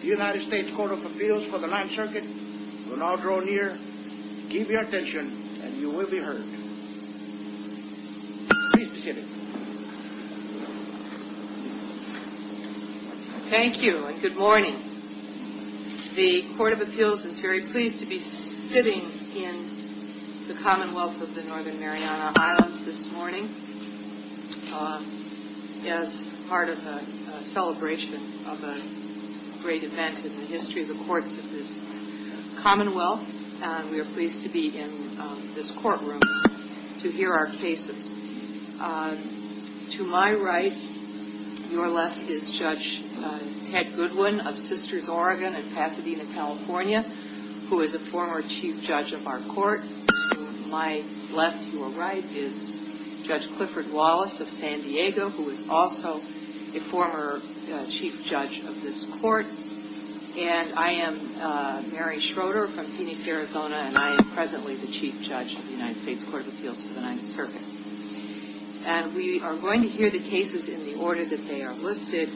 The United States Court of Appeals for the Ninth Circuit of Guam Thank you and good morning. The Court of Appeals is very pleased to be sitting in the Commonwealth of the Northern Mariana Islands this morning as part of a celebration of a great event in the history of the courts of Guam. We are pleased to be in this courtroom to hear our cases. To my right, your left, is Judge Ted Goodwin of Sisters Oregon in Pasadena, California, who is a former chief judge of our court. To my left, your right, is Judge Clifford Wallace of San Diego, who is also a former chief judge of this court. And I am Mary Schroeder from Phoenix, Arizona, and I am presently the chief judge of the United States Court of Appeals for the Ninth Circuit. And we are going to hear the cases in the order that they are listed.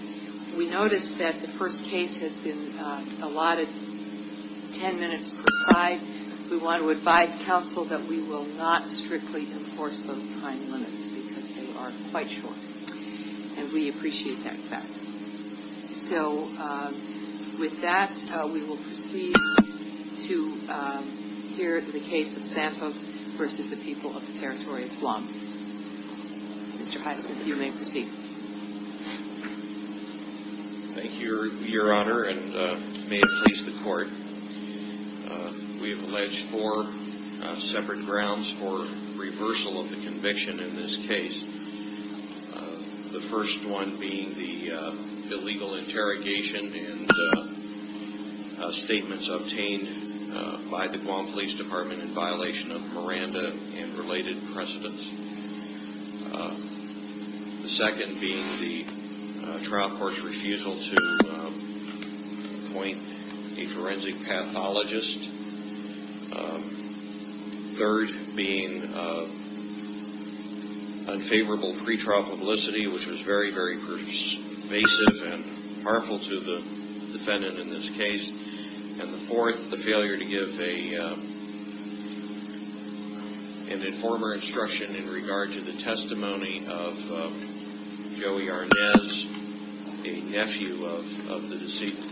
We noticed that the first case has been allotted ten minutes per side. We want to advise counsel that we will not strictly enforce those time limits because they are quite short. And we appreciate that fact. So with that, we will proceed to hear the case of Santos v. The People of the Territory of Guam. Mr. Heisman, you may proceed. Thank you, Your Honor, and may it please the court, we have alleged four separate grounds for reversal of the conviction in this case. The first one being the illegal interrogation and statements obtained by the Guam Police Department in violation of Miranda and related precedents. The second being the trial court's refusal to appoint a forensic pathologist. Third being unfavorable pretrial publicity, which was very, very pervasive and harmful to the defendant in this case. And the fourth, the failure to give an informer instruction in regard to the testimony of Joey Arnez, a nephew of the deceased.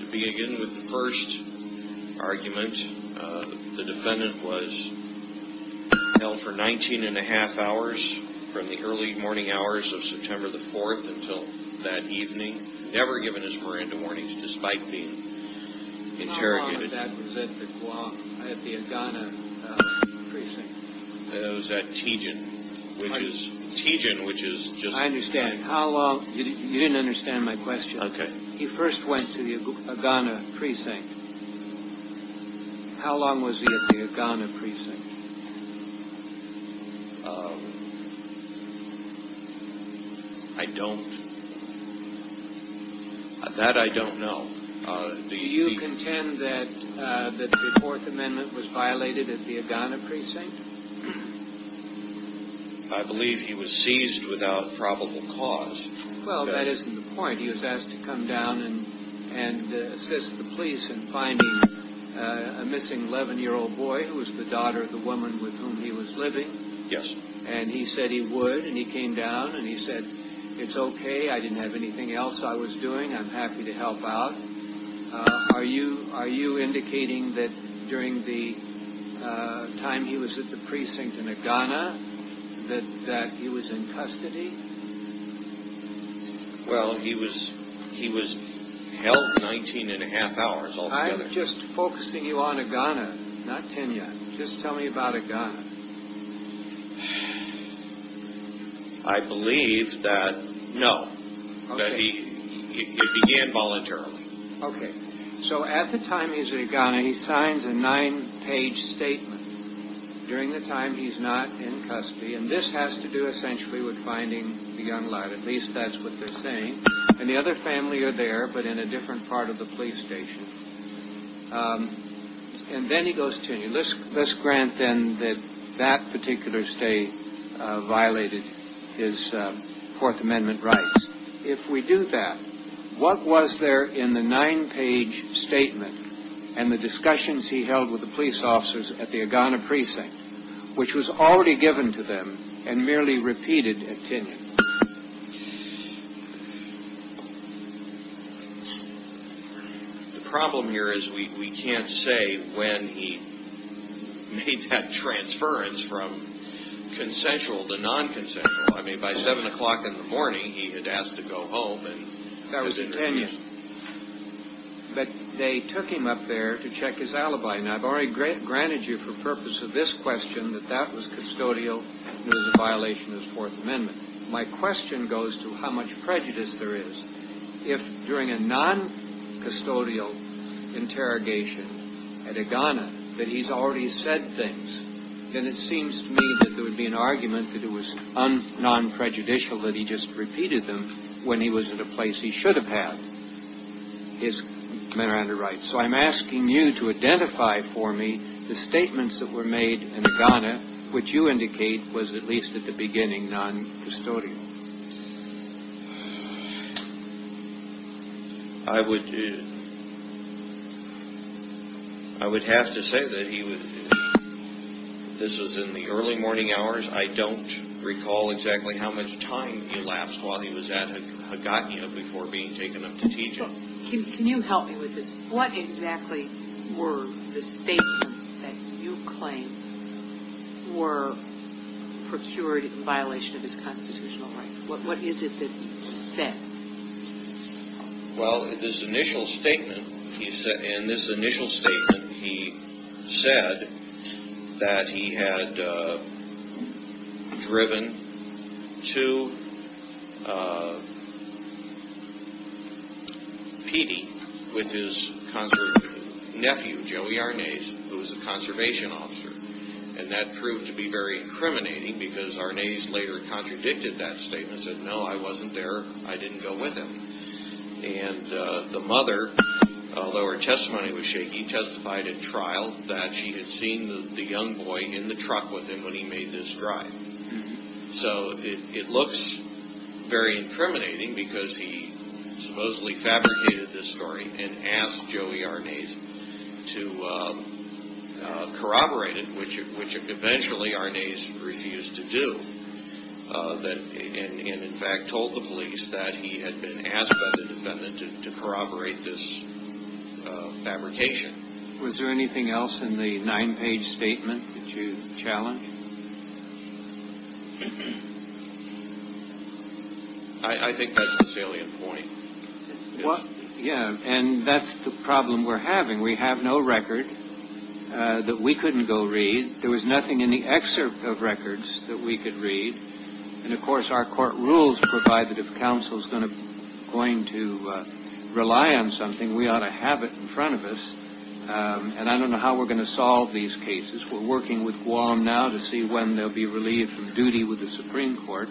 To begin with the first argument, the defendant was held for 19 and a half hours from the early morning hours of September the 4th until that evening, never given his Miranda warnings despite being interrogated. How long was that at the Guam, at the Ogana Precinct? It was at Tijin, which is just... I understand. How long, you didn't understand my question. Okay. He first went to the Ogana Precinct. How long was he at the Ogana Precinct? Um, I don't, that I don't know. Do you contend that the Fourth Amendment was violated at the Ogana Precinct? I believe he was seized without probable cause. Well, that isn't the point. He was asked to come down and assist the police in finding a missing 11-year-old boy who was the daughter of the woman with whom he was living. Yes. And he said he would and he came down and he said, it's okay, I didn't have anything else I was doing, I'm happy to help out. Are you indicating that during the time he was at the precinct in Ogana that he was in custody? Well, he was held 19 and a half hours altogether. I'm just focusing you on Ogana, not Tijin. Just tell me about Ogana. I believe that, no, that he began voluntarily. Okay. So at the time he's at Ogana, he signs a nine-page statement during the time he's not in custody, and this has to do essentially with finding the young lad, at least that's what they're saying. And the other family are there, but in a different part of the police station. And then he goes to Tijin. Let's grant then that that particular state violated his Fourth Amendment rights. If we do that, what was there in the nine-page statement and the discussions he held with the police officers at the Ogana precinct, which was already given to them and merely repeated at Tijin? The problem here is we can't say when he made that transference from consensual to non-consensual. I mean, by 7 o'clock in the morning, he had asked to go home. That was at Tijin. But they took him up there to check his alibi. And I've already granted you for purpose of this question that that was custodial and it was a violation of his Fourth Amendment. My question goes to how much prejudice there is. If during a non-custodial interrogation at Ogana that he's already said things, then it seems to me that there would be an argument that it was non-prejudicial that he just repeated them when he was at a place he should have had his men around his rights. So I'm asking you to identify for me the statements that were made in Ogana, which you indicate was at least at the beginning non-custodial. I would have to say that this was in the early morning hours. I don't recall exactly how much time elapsed while he was at Hagakia before being taken up to Tijin. Can you help me with this? What exactly were the statements that you claim were procured in violation of his constitutional rights? What is it that he said? Well, in this initial statement he said that he had driven to Petey with his nephew, Joey Arnaz, who was a conservation officer. And that proved to be very incriminating because Arnaz later contradicted that statement, and said, no, I wasn't there, I didn't go with him. And the mother, although her testimony was shaky, testified at trial that she had seen the young boy in the truck with him when he made this drive. So it looks very incriminating because he supposedly fabricated this story and asked Joey Arnaz to corroborate it, which eventually Arnaz refused to do. And in fact told the police that he had been asked by the defendant to corroborate this fabrication. Was there anything else in the nine-page statement that you challenged? I think that's a salient point. Yeah, and that's the problem we're having. We have no record that we couldn't go read. There was nothing in the excerpt of records that we could read. And, of course, our court rules provide that if counsel is going to rely on something, we ought to have it in front of us. And I don't know how we're going to solve these cases. We're working with Guam now to see when they'll be relieved from duty with the Supreme Court.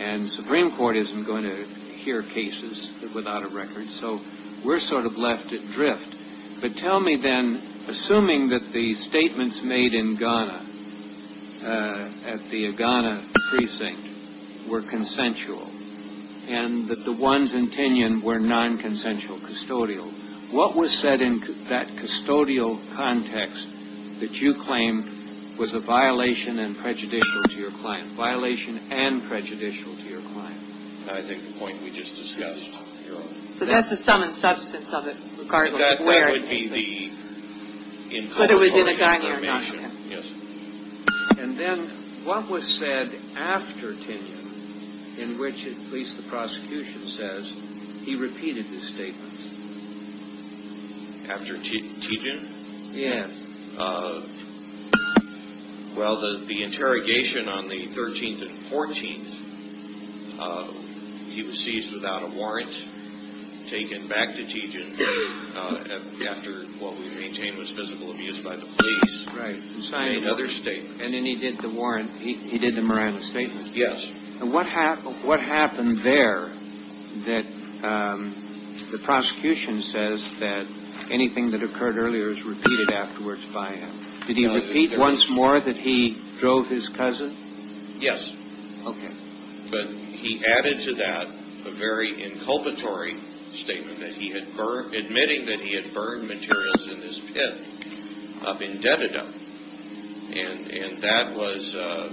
And the Supreme Court isn't going to hear cases without a record. So we're sort of left adrift. But tell me then, assuming that the statements made in Ghana at the Ghana precinct were consensual and that the ones in Tinian were nonconsensual, custodial, what was said in that custodial context that you claimed was a violation and prejudicial to your client? Violation and prejudicial to your client. I think the point we just discussed. So that's the sum and substance of it, regardless of where it came from. That would be the incontrovertible confirmation. Yes. And then what was said after Tinian in which at least the prosecution says he repeated his statements? After Tijin? Yes. Well, the interrogation on the 13th and 14th, he was seized without a warrant, taken back to Tijin after what we maintain was physical abuse by the police. Right. And another statement. And then he did the Morano statement. Yes. And what happened there that the prosecution says that anything that occurred earlier is repeated afterwards by him? Did he repeat once more that he drove his cousin? Yes. Okay. But he added to that a very inculpatory statement that he had burned, admitting that he had burned materials in his pit up in Dededum. And that was, of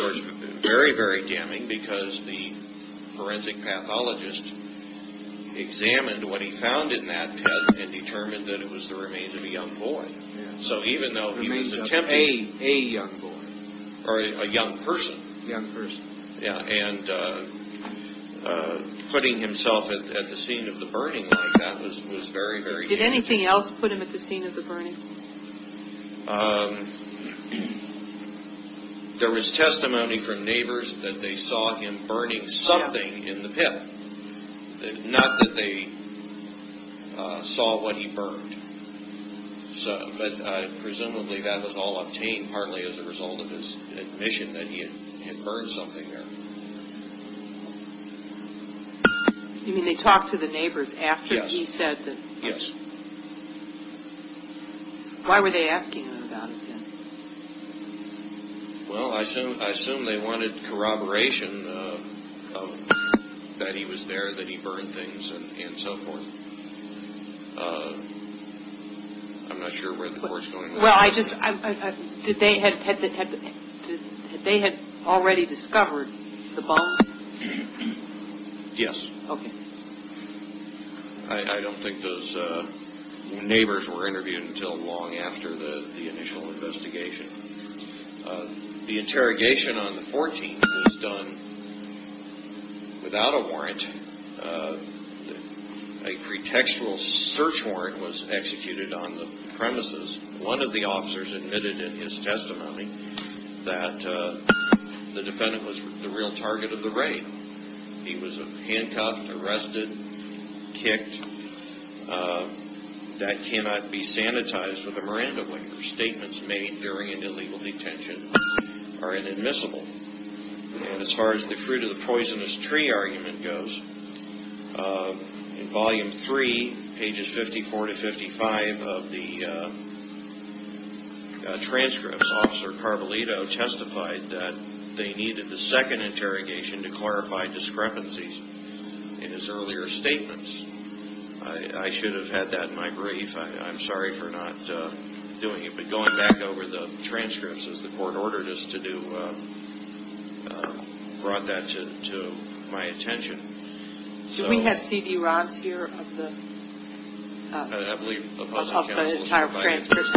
course, very, very damning because the forensic pathologist examined what he found in that pit and determined that it was the remains of a young boy. So even though he was attempting to be a young boy or a young person. Young person. Yes. And putting himself at the scene of the burning like that was very, very damaging. Did anything else put him at the scene of the burning? There was testimony from neighbors that they saw him burning something in the pit. Not that they saw what he burned. But presumably that was all obtained partly as a result of his admission that he had burned something there. You mean they talked to the neighbors after he said that? Yes. Why were they asking him about it then? Well, I assume they wanted corroboration that he was there, that he burned things, and so forth. I'm not sure where the board is going with that. Well, I just, did they have already discovered the bomb? Yes. Okay. I don't think those neighbors were interviewed until long after the initial investigation. The interrogation on the 14th was done without a warrant. A pretextual search warrant was executed on the premises. One of the officers admitted in his testimony that the defendant was the real target of the raid. He was handcuffed, arrested, kicked. That cannot be sanitized with a Miranda Winger. Statements made during an illegal detention are inadmissible. And as far as the fruit of the poisonous tree argument goes, in volume three, pages 54 to 55 of the transcript, Officer Carvalito testified that they needed the second interrogation to clarify discrepancies in his earlier statements. I should have had that in my brief. I'm sorry for not doing it. But going back over the transcripts, as the court ordered us to do, brought that to my attention. Should we have C.D. Rahn's here of the entire transcript?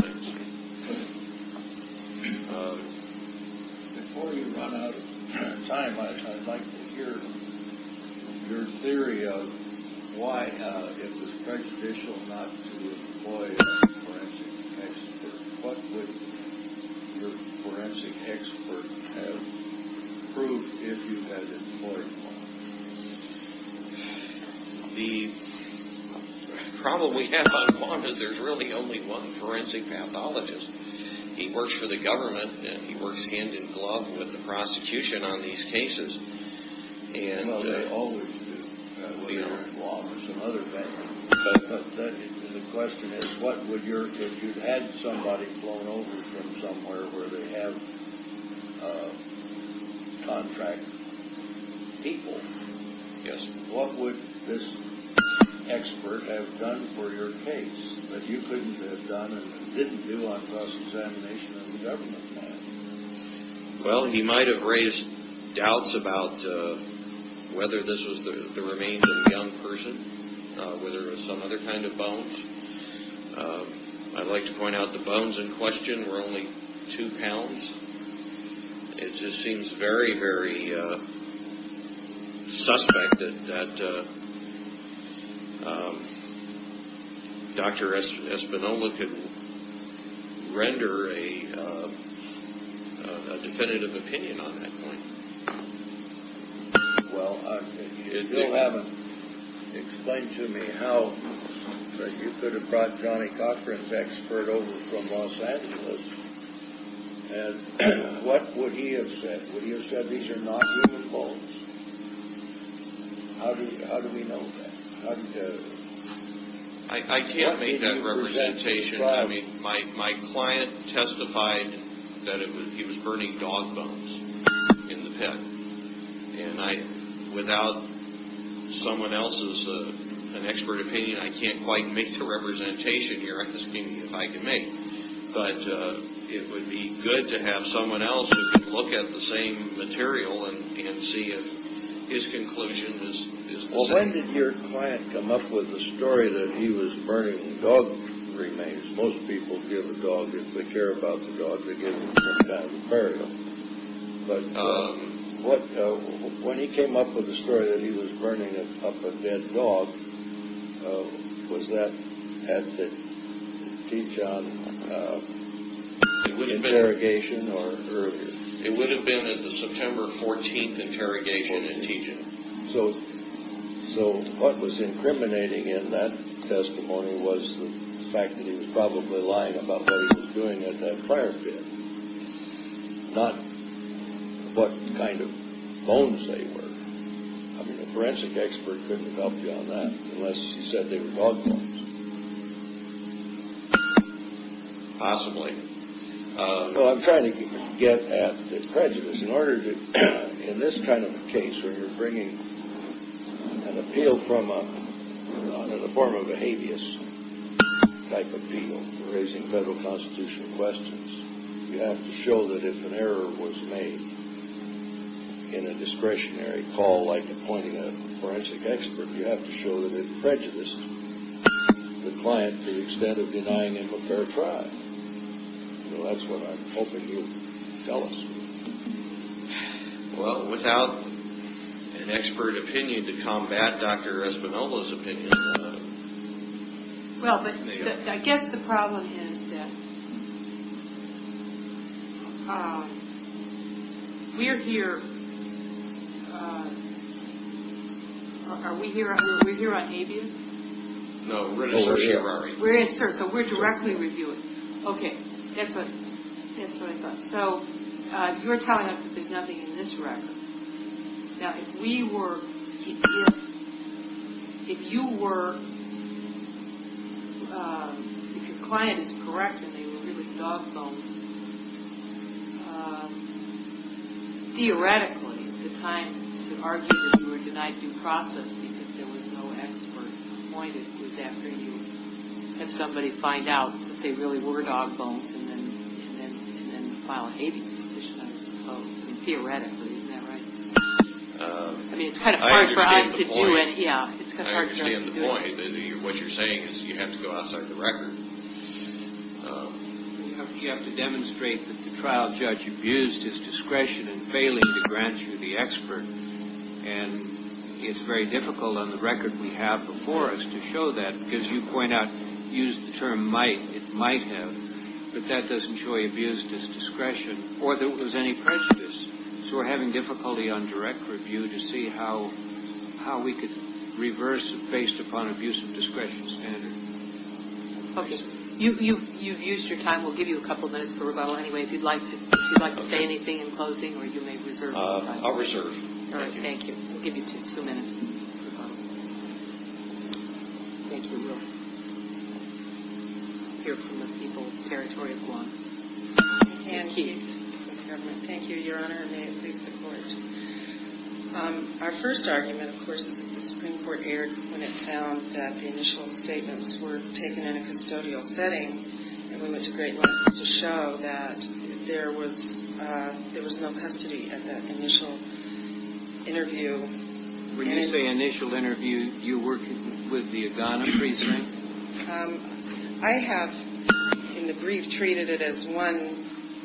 Before you run out of time, I'd like to hear your theory of why it was prejudicial not to employ a forensic expert. What would your forensic expert have proved if you had employed one? The problem we have on Guantanamo is there's really only one forensic pathologist. He works for the government, and he works hand in glove with the prosecution on these cases. Well, they always do. The question is, if you had somebody flown over from somewhere where they have contract people, what would this expert have done for your case that you couldn't have done and didn't do on cross-examination on the government path? Well, he might have raised doubts about whether this was the remains of a young person, whether it was some other kind of bones. I'd like to point out the bones in question were only two pounds. It just seems very, very suspect that Dr. Espinola could render a definitive opinion on that point. Well, you still haven't explained to me how you could have brought Johnny Cochran's expert over from Los Angeles and what would he have said? Would he have said these are not human bones? How do we know that? I can't make that representation. I mean, my client testified that he was burning dog bones in the pit, and without someone else's expert opinion, I can't quite make the representation here. But it would be good to have someone else who could look at the same material and see if his conclusion is the same. Well, when did your client come up with the story that he was burning dog remains? Most people give a dog, if they care about the dog, they give it as a burial. But when he came up with the story that he was burning up a dead dog, was that at the T. John interrogation or earlier? It would have been at the September 14th interrogation at T. John. So what was incriminating in that testimony was the fact that he was probably lying about what he was doing at that fire pit. Not what kind of bones they were. I mean, a forensic expert couldn't have helped you on that unless he said they were dog bones. Possibly. Well, I'm trying to get at the prejudice. In order to, in this kind of a case where you're bringing an appeal from a, in the form of a habeas type appeal, raising federal constitutional questions, you have to show that if an error was made in a discretionary call like appointing a forensic expert, you have to show that it prejudiced the client to the extent of denying him a fair trial. So that's what I'm hoping you'll tell us. Well, without an expert opinion to combat Dr. Espinola's opinion, I don't know. Well, but I guess the problem is that we're here, are we here on habeas? No, we're in assert. We're in assert, so we're directly reviewing. Okay, that's what I thought. So you're telling us that there's nothing in this record. Now, if we were, if you were, if your client is correct and they were really dog bones, theoretically the time to argue that you were denied due process because there was no expert appointed is after you have somebody find out that they really were dog bones and then file a habeas petition, I suppose. Theoretically, is that right? I mean, it's kind of hard for us to do it. I understand the point. Yeah, it's kind of hard for us to do it. I understand the point. What you're saying is you have to go outside the record. You have to demonstrate that the trial judge abused his discretion in failing to grant you the expert, and it's very difficult on the record we have before us to show that because you point out, used the term might, it might have, but that doesn't show he abused his discretion or there was any prejudice. So we're having difficulty on direct review to see how we could reverse it based upon abuse of discretion standard. Okay. You've used your time. We'll give you a couple minutes for rebuttal anyway if you'd like to say anything in closing or you may reserve some time. I'll reserve. All right. Thank you. We'll give you two minutes for rebuttal. Thank you. We will hear from the people of the territory of Guam. Ann Keith with the government. Thank you, Your Honor, and may it please the Court. Our first argument, of course, is that the Supreme Court erred when it found that the initial statements were taken in a custodial setting, and we went to great lengths to show that there was no custody at that initial interview. When you say initial interview, you were working with the Agana priest, right? I have, in the brief, treated it as one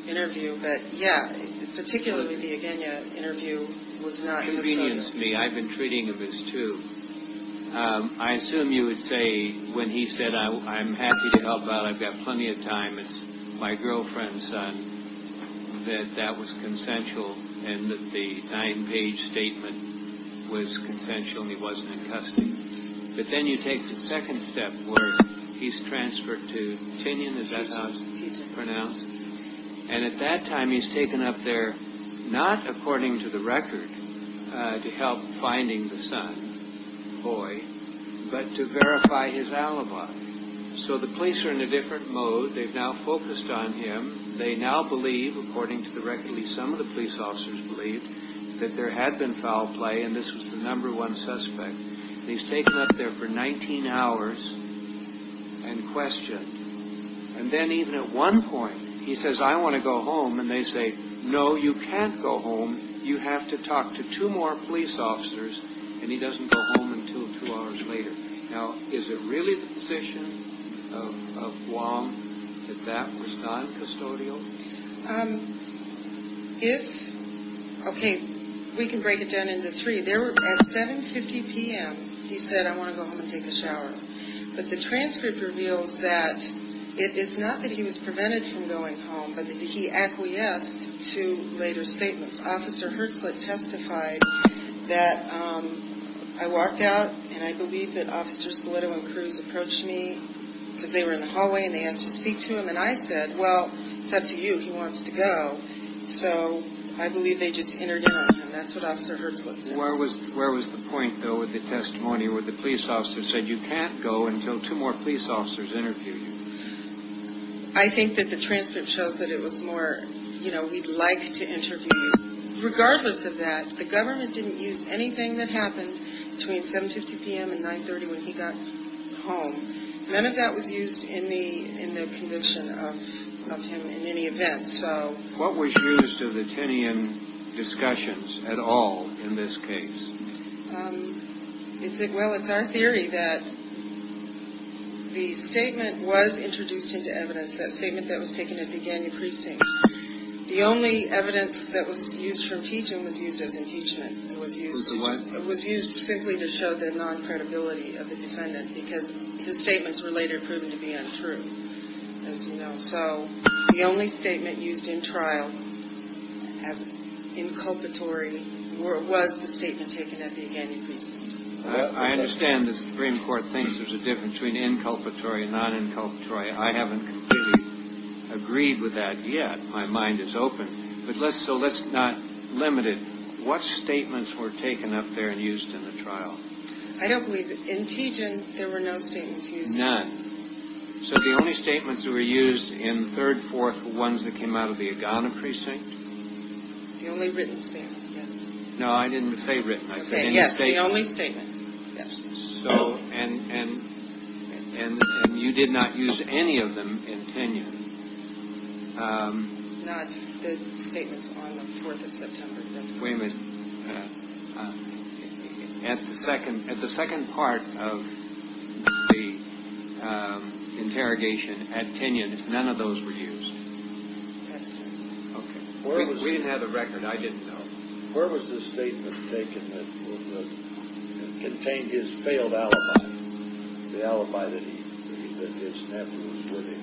interview, but, yeah, particularly the Agena interview was not in the study. Convenience me. I've been treating it as two. I assume you would say when he said, I'm happy to help out, I've got plenty of time, it's my girlfriend's son, that that was consensual and that the nine-page statement was consensual and he wasn't in custody. But then you take the second step where he's transferred to Tinian, is that how it's pronounced? And at that time, he's taken up there, not according to the record, to help finding the son, Hoy, but to verify his alibi. So the police are in a different mode. They've now focused on him. They now believe, according to the record, at least some of the police officers believe, that there had been foul play, and this was the number one suspect, and he's taken up there for 19 hours and questioned. And then even at one point, he says, I want to go home, and they say, no, you can't go home. You have to talk to two more police officers, and he doesn't go home until two hours later. Now, is it really the position of Guam that that was not custodial? If, okay, we can break it down into three. There were, at 7.50 p.m., he said, I want to go home and take a shower. But the transcript reveals that it is not that he was prevented from going home, but that he acquiesced to later statements. Officer Hertzlet testified that, I walked out, and I believe that Officers Bellitto and Cruz approached me, because they were in the hallway, and they asked to speak to him, and I said, well, it's up to you. He wants to go. So I believe they just entered in on him. That's what Officer Hertzlet said. Where was the point, though, with the testimony where the police officer said you can't go until two more police officers interview you? I think that the transcript shows that it was more, you know, we'd like to interview you. Regardless of that, the government didn't use anything that happened between 7.50 p.m. and 9.30 when he got home. None of that was used in the conviction of him in any event. What was used of the Tinian discussions at all in this case? Well, it's our theory that the statement was introduced into evidence, that statement that was taken at the Gagnon Precinct. The only evidence that was used for teaching was used as impeachment. It was used simply to show the non-credibility of the defendant, because his statements were later proven to be untrue, as you know. So the only statement used in trial as inculpatory was the statement taken at the Gagnon Precinct. I understand the Supreme Court thinks there's a difference between inculpatory and non-inculpatory. I haven't completely agreed with that yet. My mind is open. So let's not limit it. What statements were taken up there and used in the trial? I don't believe that. In Tijin, there were no statements used. None. So the only statements that were used in the third, fourth ones that came out of the Gagnon Precinct? The only written statement, yes. No, I didn't say written. I said any statement. Yes, the only statement, yes. And you did not use any of them in Tinian? Not the statements on the 4th of September. Wait a minute. At the second part of the interrogation at Tinian, none of those were used? That's right. Okay. We didn't have the record. I didn't know. Where was the statement taken that contained his failed alibi, the alibi that his nephew was living,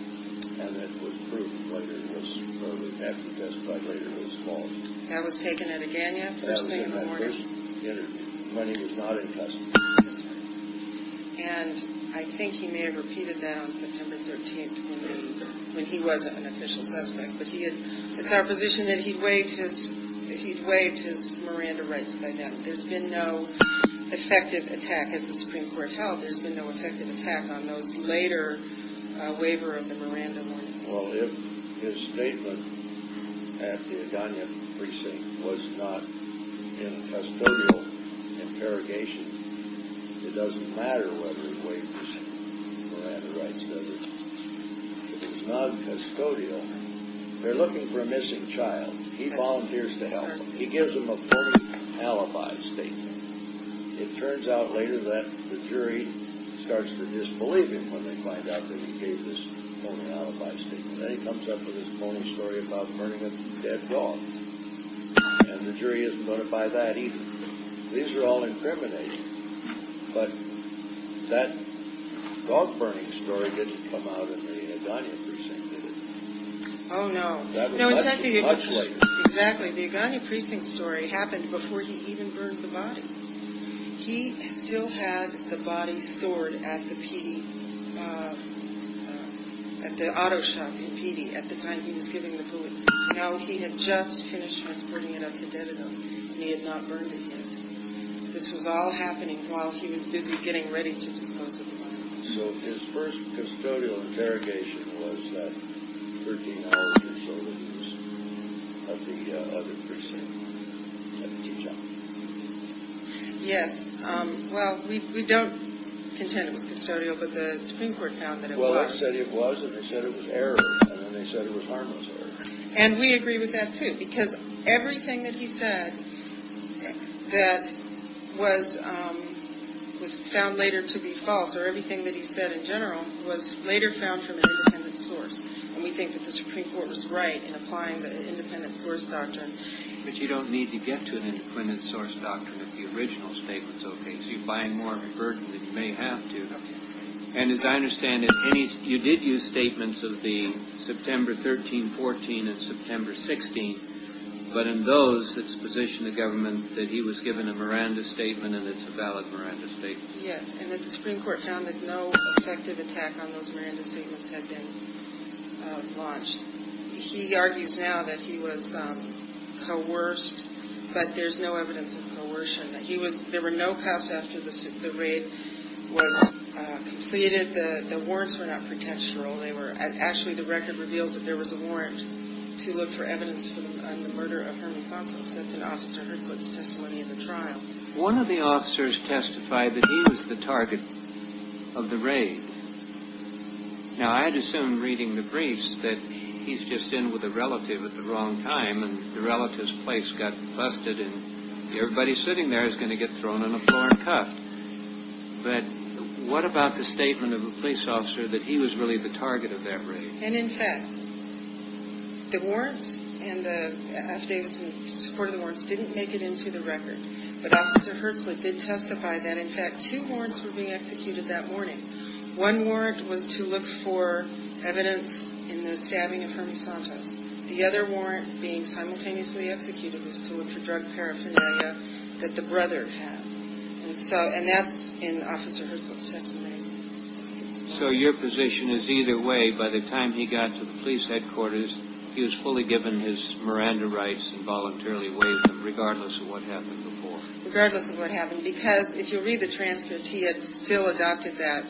and that would prove whether it was, or the nephew testified whether it was false? That was taken at a Gagnon first thing in the morning? At a Gagnon first interview. My name is not in custody. That's right. And I think he may have repeated that on September 13th when he was an official suspect, but it's our position that he'd waived his Miranda rights by then. There's been no effective attack, as the Supreme Court held, there's been no effective attack on those later waiver of the Miranda warnings. Well, if his statement at the Gagnon precinct was not in custodial interrogation, it doesn't matter whether he waived his Miranda rights, does it? If it's non-custodial, they're looking for a missing child. He volunteers to help them. He gives them a phony alibi statement. It turns out later that the jury starts to disbelieve him when they find out that he gave this phony alibi statement. Then he comes up with this phony story about burning a dead dog, and the jury isn't notified of that either. These are all incriminating, but that dog-burning story didn't come out in the Gagnon precinct, did it? Oh, no. That's much later. Exactly. The Gagnon precinct story happened before he even burned the body. He still had the body stored at the P.E., at the auto shop in P.E. at the time he was giving the bullet. Now he had just finished transporting it up to Dedekind, and he had not burned it yet. This was all happening while he was busy getting ready to dispose of the body. So his first custodial interrogation was that 13 hours or so that he was at the other precinct at the tea shop. Yes. Well, we don't contend it was custodial, but the Supreme Court found that it was. Well, they said it was, and they said it was error, and they said it was harmless error. And we agree with that, too, because everything that he said that was found later to be false, or everything that he said in general, was later found from an independent source. And we think that the Supreme Court was right in applying the independent source doctrine. But you don't need to get to an independent source doctrine if the original statement's okay. So you're buying more of a burden than you may have to. And as I understand it, you did use statements of the September 13, 14, and September 16. But in those, it's position of government that he was given a Miranda statement, and it's a valid Miranda statement. Yes, and that the Supreme Court found that no effective attack on those Miranda statements had been launched. He argues now that he was coerced, but there's no evidence of coercion. There were no cuffs after the raid was completed. The warrants were not pretextual. Actually, the record reveals that there was a warrant to look for evidence on the murder of Herman Santos. That's an officer Herzlitz testimony in the trial. One of the officers testified that he was the target of the raid. Now, I'd assume, reading the briefs, that he's just in with a relative at the wrong time, and the relative's place got busted, and everybody sitting there is going to get thrown on the floor and cuffed. But what about the statement of a police officer that he was really the target of that raid? And, in fact, the warrants and the affidavits in support of the warrants didn't make it into the record. But Officer Herzlitz did testify that, in fact, two warrants were being executed that morning. One warrant was to look for evidence in the stabbing of Herman Santos. The other warrant being simultaneously executed was to look for drug paraphernalia that the brother had. And that's in Officer Herzlitz' testimony. So your position is either way, by the time he got to the police headquarters, he was fully given his Miranda rights and voluntarily waived them, regardless of what happened before? Regardless of what happened. Because, if you'll read the transcript, he had still adopted that,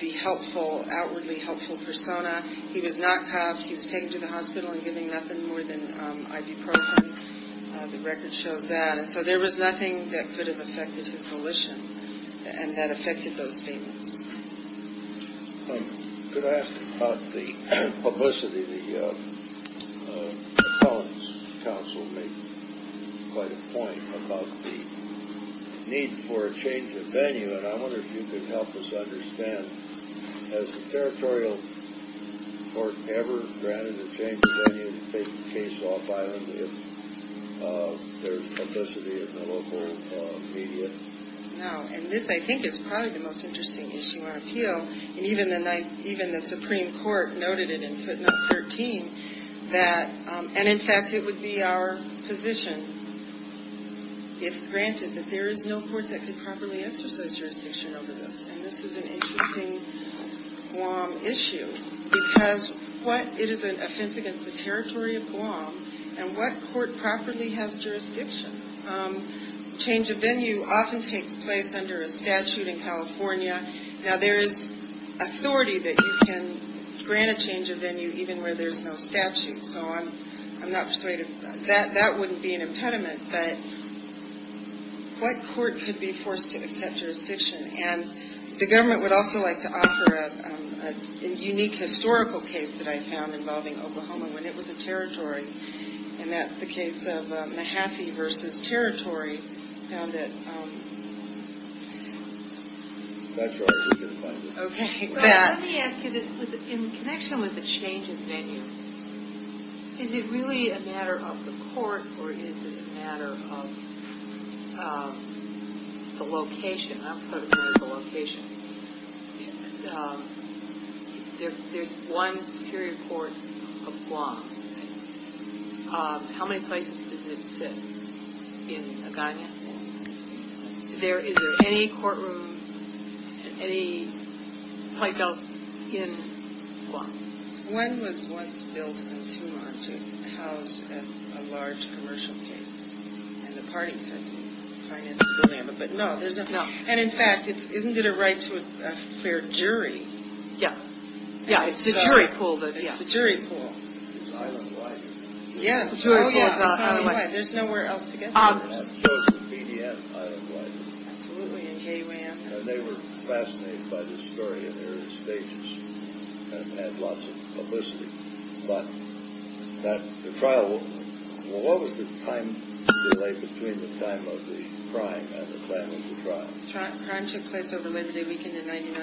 the helpful, outwardly helpful persona. He was not cuffed. He was taken to the hospital and given nothing more than ibuprofen. The record shows that. And so there was nothing that could have affected his volition, and that affected those statements. Could I ask about the publicity? The Appellant's Counsel made quite a point about the need for a change of venue. And I wonder if you could help us understand, has the Territorial Court ever granted a change of venue to take the case off-island if there's publicity in the local media? No. And this, I think, is probably the most interesting issue on appeal. And even the Supreme Court noted it in footnote 13 that, and, in fact, it would be our position, if granted, that there is no court that could properly exercise jurisdiction over this. And this is an interesting Guam issue, because what, it is an offense against the territory of Guam, and what court properly has jurisdiction? Change of venue often takes place under a statute in California. Now, there is authority that you can grant a change of venue even where there's no statute. So I'm not persuaded. That wouldn't be an impediment. But what court could be forced to accept jurisdiction? And the government would also like to offer a unique historical case that I found involving Oklahoma when it was a territory, and that's the case of Mahaffey v. Territory found at- I'm not sure I can find it. Okay. Let me ask you this. In connection with the change of venue, is it really a matter of the court, or is it a matter of the location? I'll start with the location. There's one superior court of Guam. How many places does it sit in Agaña? Is there any courtroom, any place else in Guam? One was once built in Tumar to house a large commercial case, and the parties had to finance the dilemma, but no. And, in fact, isn't it a right to a fair jury? Yeah. Yeah, it's the jury pool. It's the jury pool. It's out of whack. Yes. It's out of whack. Okay. There's nowhere else to get to. It shows in BDM, I look like. Absolutely, in KUAM. And they were fascinated by the story in the early stages and had lots of publicity. But the trial- Well, what was the time delay between the time of the crime and the planning of the trial? Crime took place over Labor Day weekend in 1999.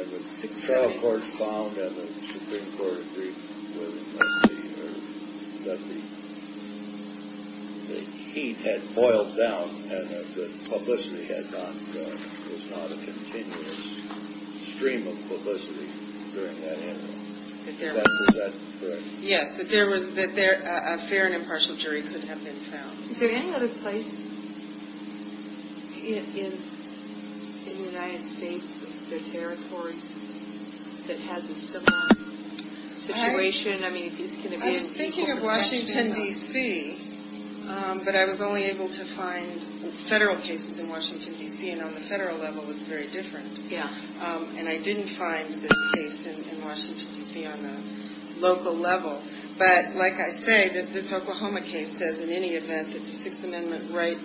And the federal court found and the Supreme Court agreed that the heat had boiled down and that the publicity had not gone. There was not a continuous stream of publicity during that interval. Is that correct? Yes, that a fair and impartial jury could have been found. Is there any other place in the United States or other territories that has a similar situation? I was thinking of Washington, D.C., but I was only able to find federal cases in Washington, D.C., and on the federal level it's very different. And I didn't find this case in Washington, D.C. on the local level. But like I say, this Oklahoma case says in any event that the Sixth Amendment right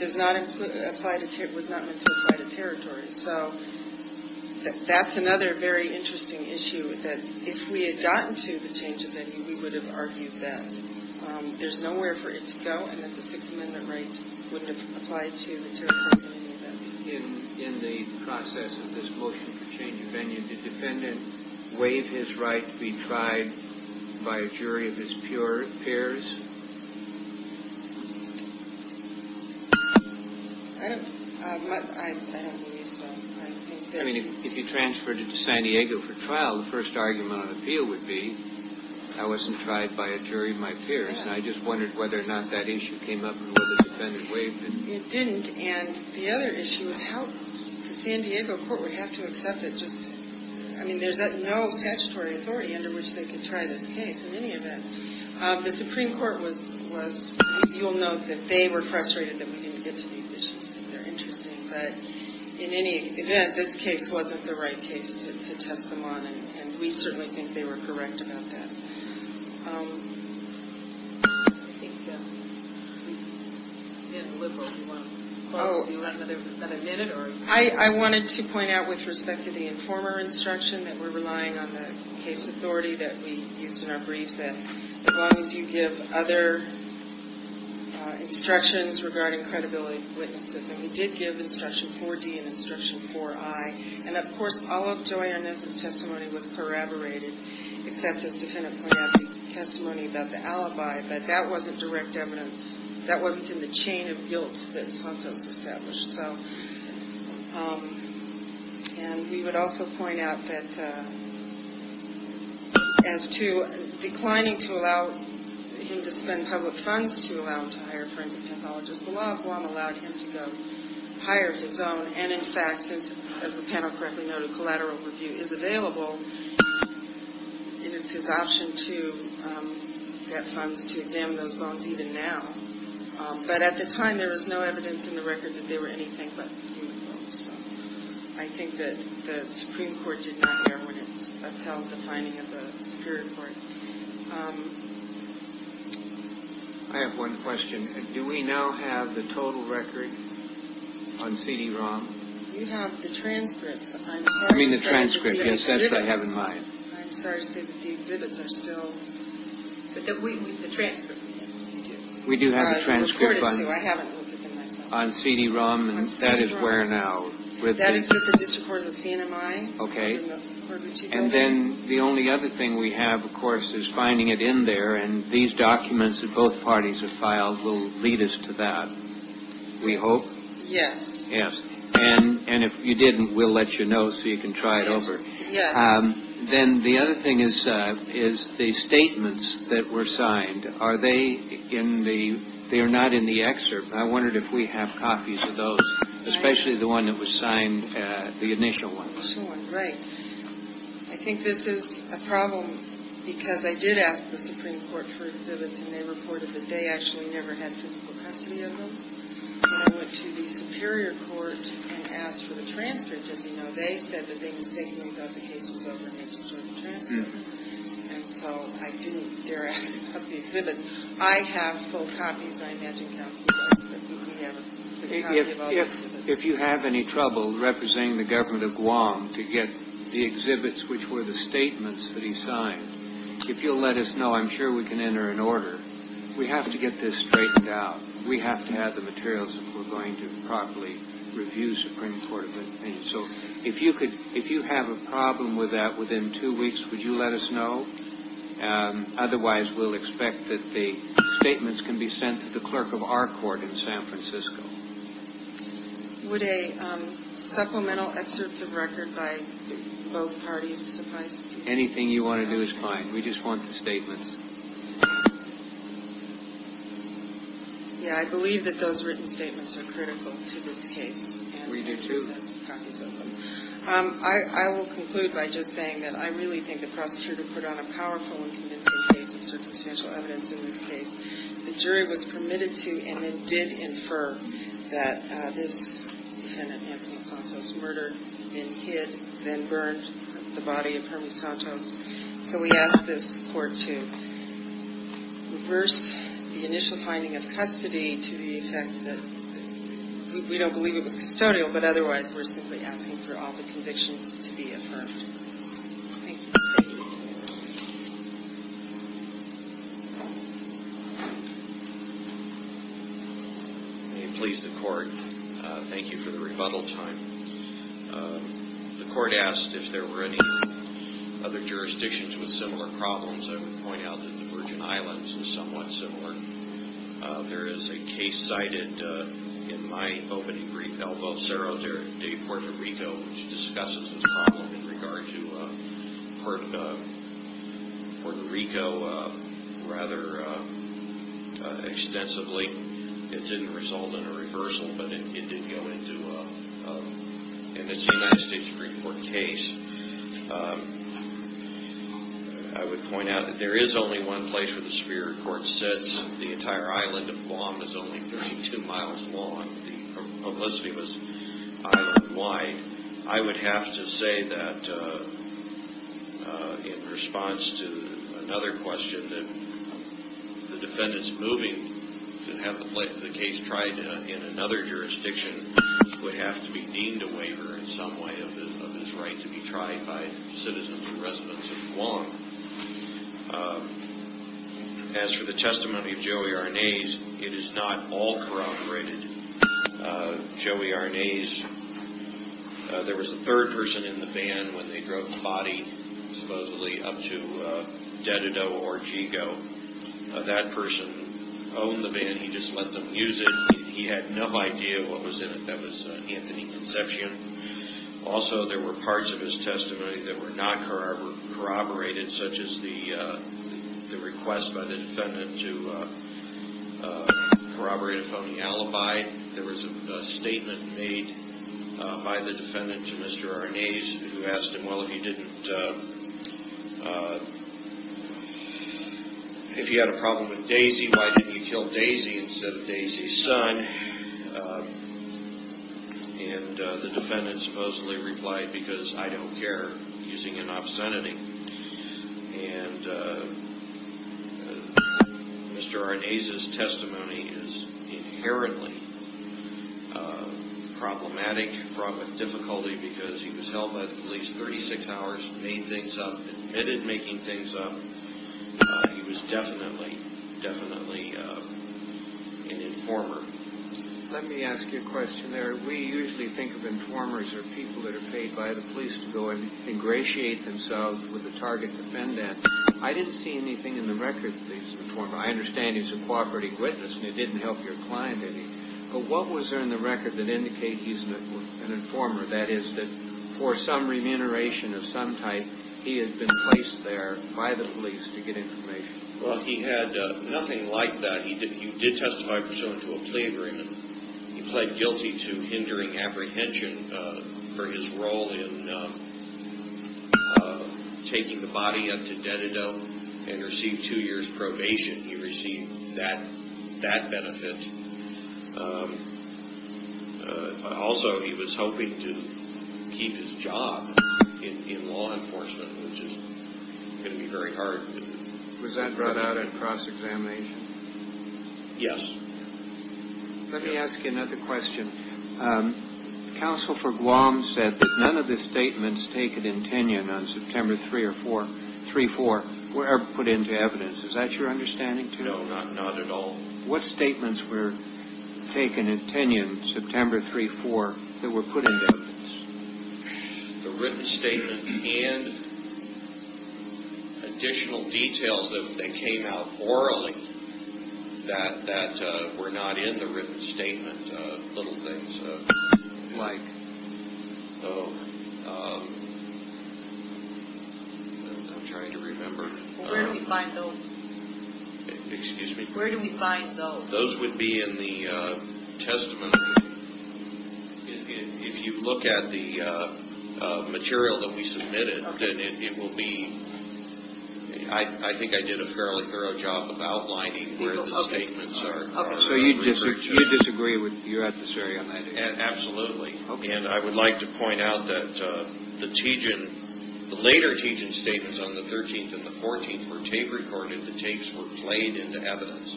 was not meant to apply to territories. So that's another very interesting issue, that if we had gotten to the change of venue, we would have argued that there's nowhere for it to go and that the Sixth Amendment right wouldn't have applied to the territories in any event. In the process of this motion for change of venue, did the defendant waive his right to be tried by a jury of his peers? I don't believe so. I mean, if you transferred it to San Diego for trial, the first argument on appeal would be, I wasn't tried by a jury of my peers, and I just wondered whether or not that issue came up and whether the defendant waived it. It didn't. And the other issue is how the San Diego court would have to accept it. Just, I mean, there's no statutory authority under which they could try this case in any event. The Supreme Court was, you'll note that they were frustrated that we didn't get to these issues because they're interesting. But in any event, this case wasn't the right case to test them on, and we certainly think they were correct about that. I think we've been a little over one question. Do you want another minute? I wanted to point out with respect to the informer instruction that we're relying on the case authority that we used in our brief that as long as you give other instructions regarding credibility of witnesses, and we did give Instruction 4D and Instruction 4I, and, of course, all of Joy Arnaz's testimony was corroborated, except as the defendant pointed out the testimony about the alibi, that that wasn't direct evidence. That wasn't in the chain of guilt that Santos established. And we would also point out that as to declining to allow him to spend public funds to allow him to hire a forensic pathologist, the law of Guam allowed him to go hire his own. And, in fact, since, as the panel correctly noted, collateral review is available, it is his option to get funds to examine those bones even now. But at the time, there was no evidence in the record that they were anything but human bones. So I think that the Supreme Court did not hear when it upheld the finding of the Superior Court. I have one question. Do we now have the total record on CD-ROM? You have the transcripts. I mean the transcript, yes, that's what I have in mind. I'm sorry to say that the exhibits are still, but the transcript we have on YouTube. We do have the transcript on CD-ROM, and that is where now? That is with the District Court of the CNMI. Okay. And then the only other thing we have, of course, is finding it in there, and these documents that both parties have filed will lead us to that, we hope. Yes. Yes. And if you didn't, we'll let you know so you can try it over. Yes. Then the other thing is the statements that were signed. Are they in the – they are not in the excerpt. I wondered if we have copies of those, especially the one that was signed, the initial ones. Right. I think this is a problem because I did ask the Supreme Court for exhibits, and they reported that they actually never had physical custody of them. And I went to the Superior Court and asked for the transcript. As you know, they said that they mistakenly thought the case was over, and they destroyed the transcript. And so I didn't dare ask for the exhibits. I have full copies. I imagine counsel does, but we have a copy of all the exhibits. If you have any trouble representing the government of Guam to get the exhibits which were the statements that he signed, if you'll let us know, I'm sure we can enter an order. We have to get this straightened out. We have to have the materials if we're going to properly review Supreme Court. So if you have a problem with that within two weeks, would you let us know? Otherwise, we'll expect that the statements can be sent to the clerk of our court in San Francisco. Would a supplemental excerpt of record by both parties suffice? Anything you want to do is fine. We just want the statements. Yeah, I believe that those written statements are critical to this case. We do too. I will conclude by just saying that I really think the prosecutor put on a powerful and convincing case of circumstantial evidence in this case. The jury was permitted to and then did infer that this defendant, Anthony Santos, murdered and hid, then burned the body of Herman Santos. So we ask this court to reverse the initial finding of custody to the effect that we don't believe it was custodial, but otherwise we're simply asking for all the convictions to be affirmed. Thank you. May it please the court, thank you for the rebuttal time. The court asked if there were any other jurisdictions with similar problems. I would point out that the Virgin Islands is somewhat similar. There is a case cited in my opening brief, El Vocero de Puerto Rico, which discusses this problem in regard to Puerto Rico rather extensively. It didn't result in a reversal, but it did go into, and it's a United States Supreme Court case. I would point out that there is only one place where the Superior Court says the entire island of Guam is only 32 miles long. The publicity was island wide. I would have to say that in response to another question that the defendant's moving to have the case tried in another jurisdiction would have to be deemed a waiver in some way of his right to be tried by citizens and residents of Guam. As for the testimony of Joey Arnaiz, it is not all corroborated. Joey Arnaiz, there was a third person in the van when they drove the body, supposedly up to Dededo or Chico. That person owned the van. He just let them use it. He had no idea what was in it. That was Anthony Concepcion. Also, there were parts of his testimony that were not corroborated, such as the request by the defendant to corroborate a phony alibi. There was a statement made by the defendant to Mr. Arnaiz who asked him, well, if you had a problem with Daisy, why didn't you kill Daisy instead of Daisy's son? The defendant supposedly replied, because I don't care, using an obscenity. Mr. Arnaiz's testimony is inherently problematic, because he was held by the police 36 hours, made things up, admitted making things up. He was definitely, definitely an informer. Let me ask you a question there. We usually think of informers as people that are paid by the police to go and ingratiate themselves with the target defendant. I didn't see anything in the record that he's an informer. I understand he's a cooperative witness and he didn't help your client any. But what was there in the record that indicate he's an informer? That is, that for some remuneration of some type, he had been placed there by the police to get information. Well, he had nothing like that. He did testify pursuant to a plea agreement. He pled guilty to hindering apprehension for his role in taking the body up to Dededo and received two years' probation. He received that benefit. Also, he was hoping to keep his job in law enforcement, which is going to be very hard. Was that brought out at cross-examination? Yes. Let me ask you another question. Counsel for Guam said that none of the statements taken in Tinian on September 3 or 4, 3-4, were put into evidence. Is that your understanding, too? No, not at all. What statements were taken in Tinian, September 3-4, that were put into evidence? The written statement and additional details that came out orally that were not in the written statement, little things. Like? Oh, I'm trying to remember. Where do we find those? Excuse me? Where do we find those? Those would be in the testament. If you look at the material that we submitted, then it will be... I think I did a fairly thorough job of outlining where the statements are. Okay, so you disagree with... you're at this area. Absolutely. And I would like to point out that the Tijin, the later Tijin statements on the 13th and the 14th were tape-recorded. The tapes were played into evidence.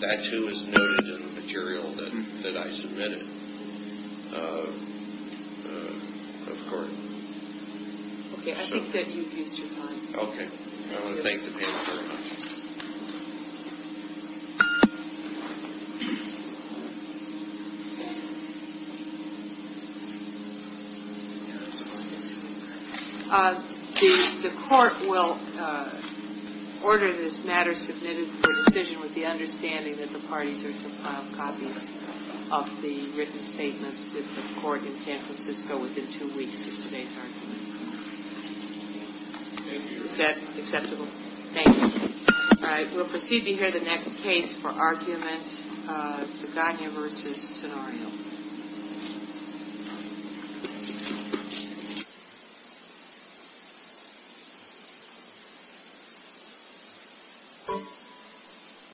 That, too, is noted in the material that I submitted. Okay, I think that you've used your time. Okay. I want to thank the panel very much. The court will order this matter submitted for decision with the understanding that the parties are to file copies of the written statements with the court in San Francisco within two weeks of today's argument. Thank you. Is that acceptable? Thank you. All right. We'll proceed to hear the next case for argument, Saganya v. Tenorio.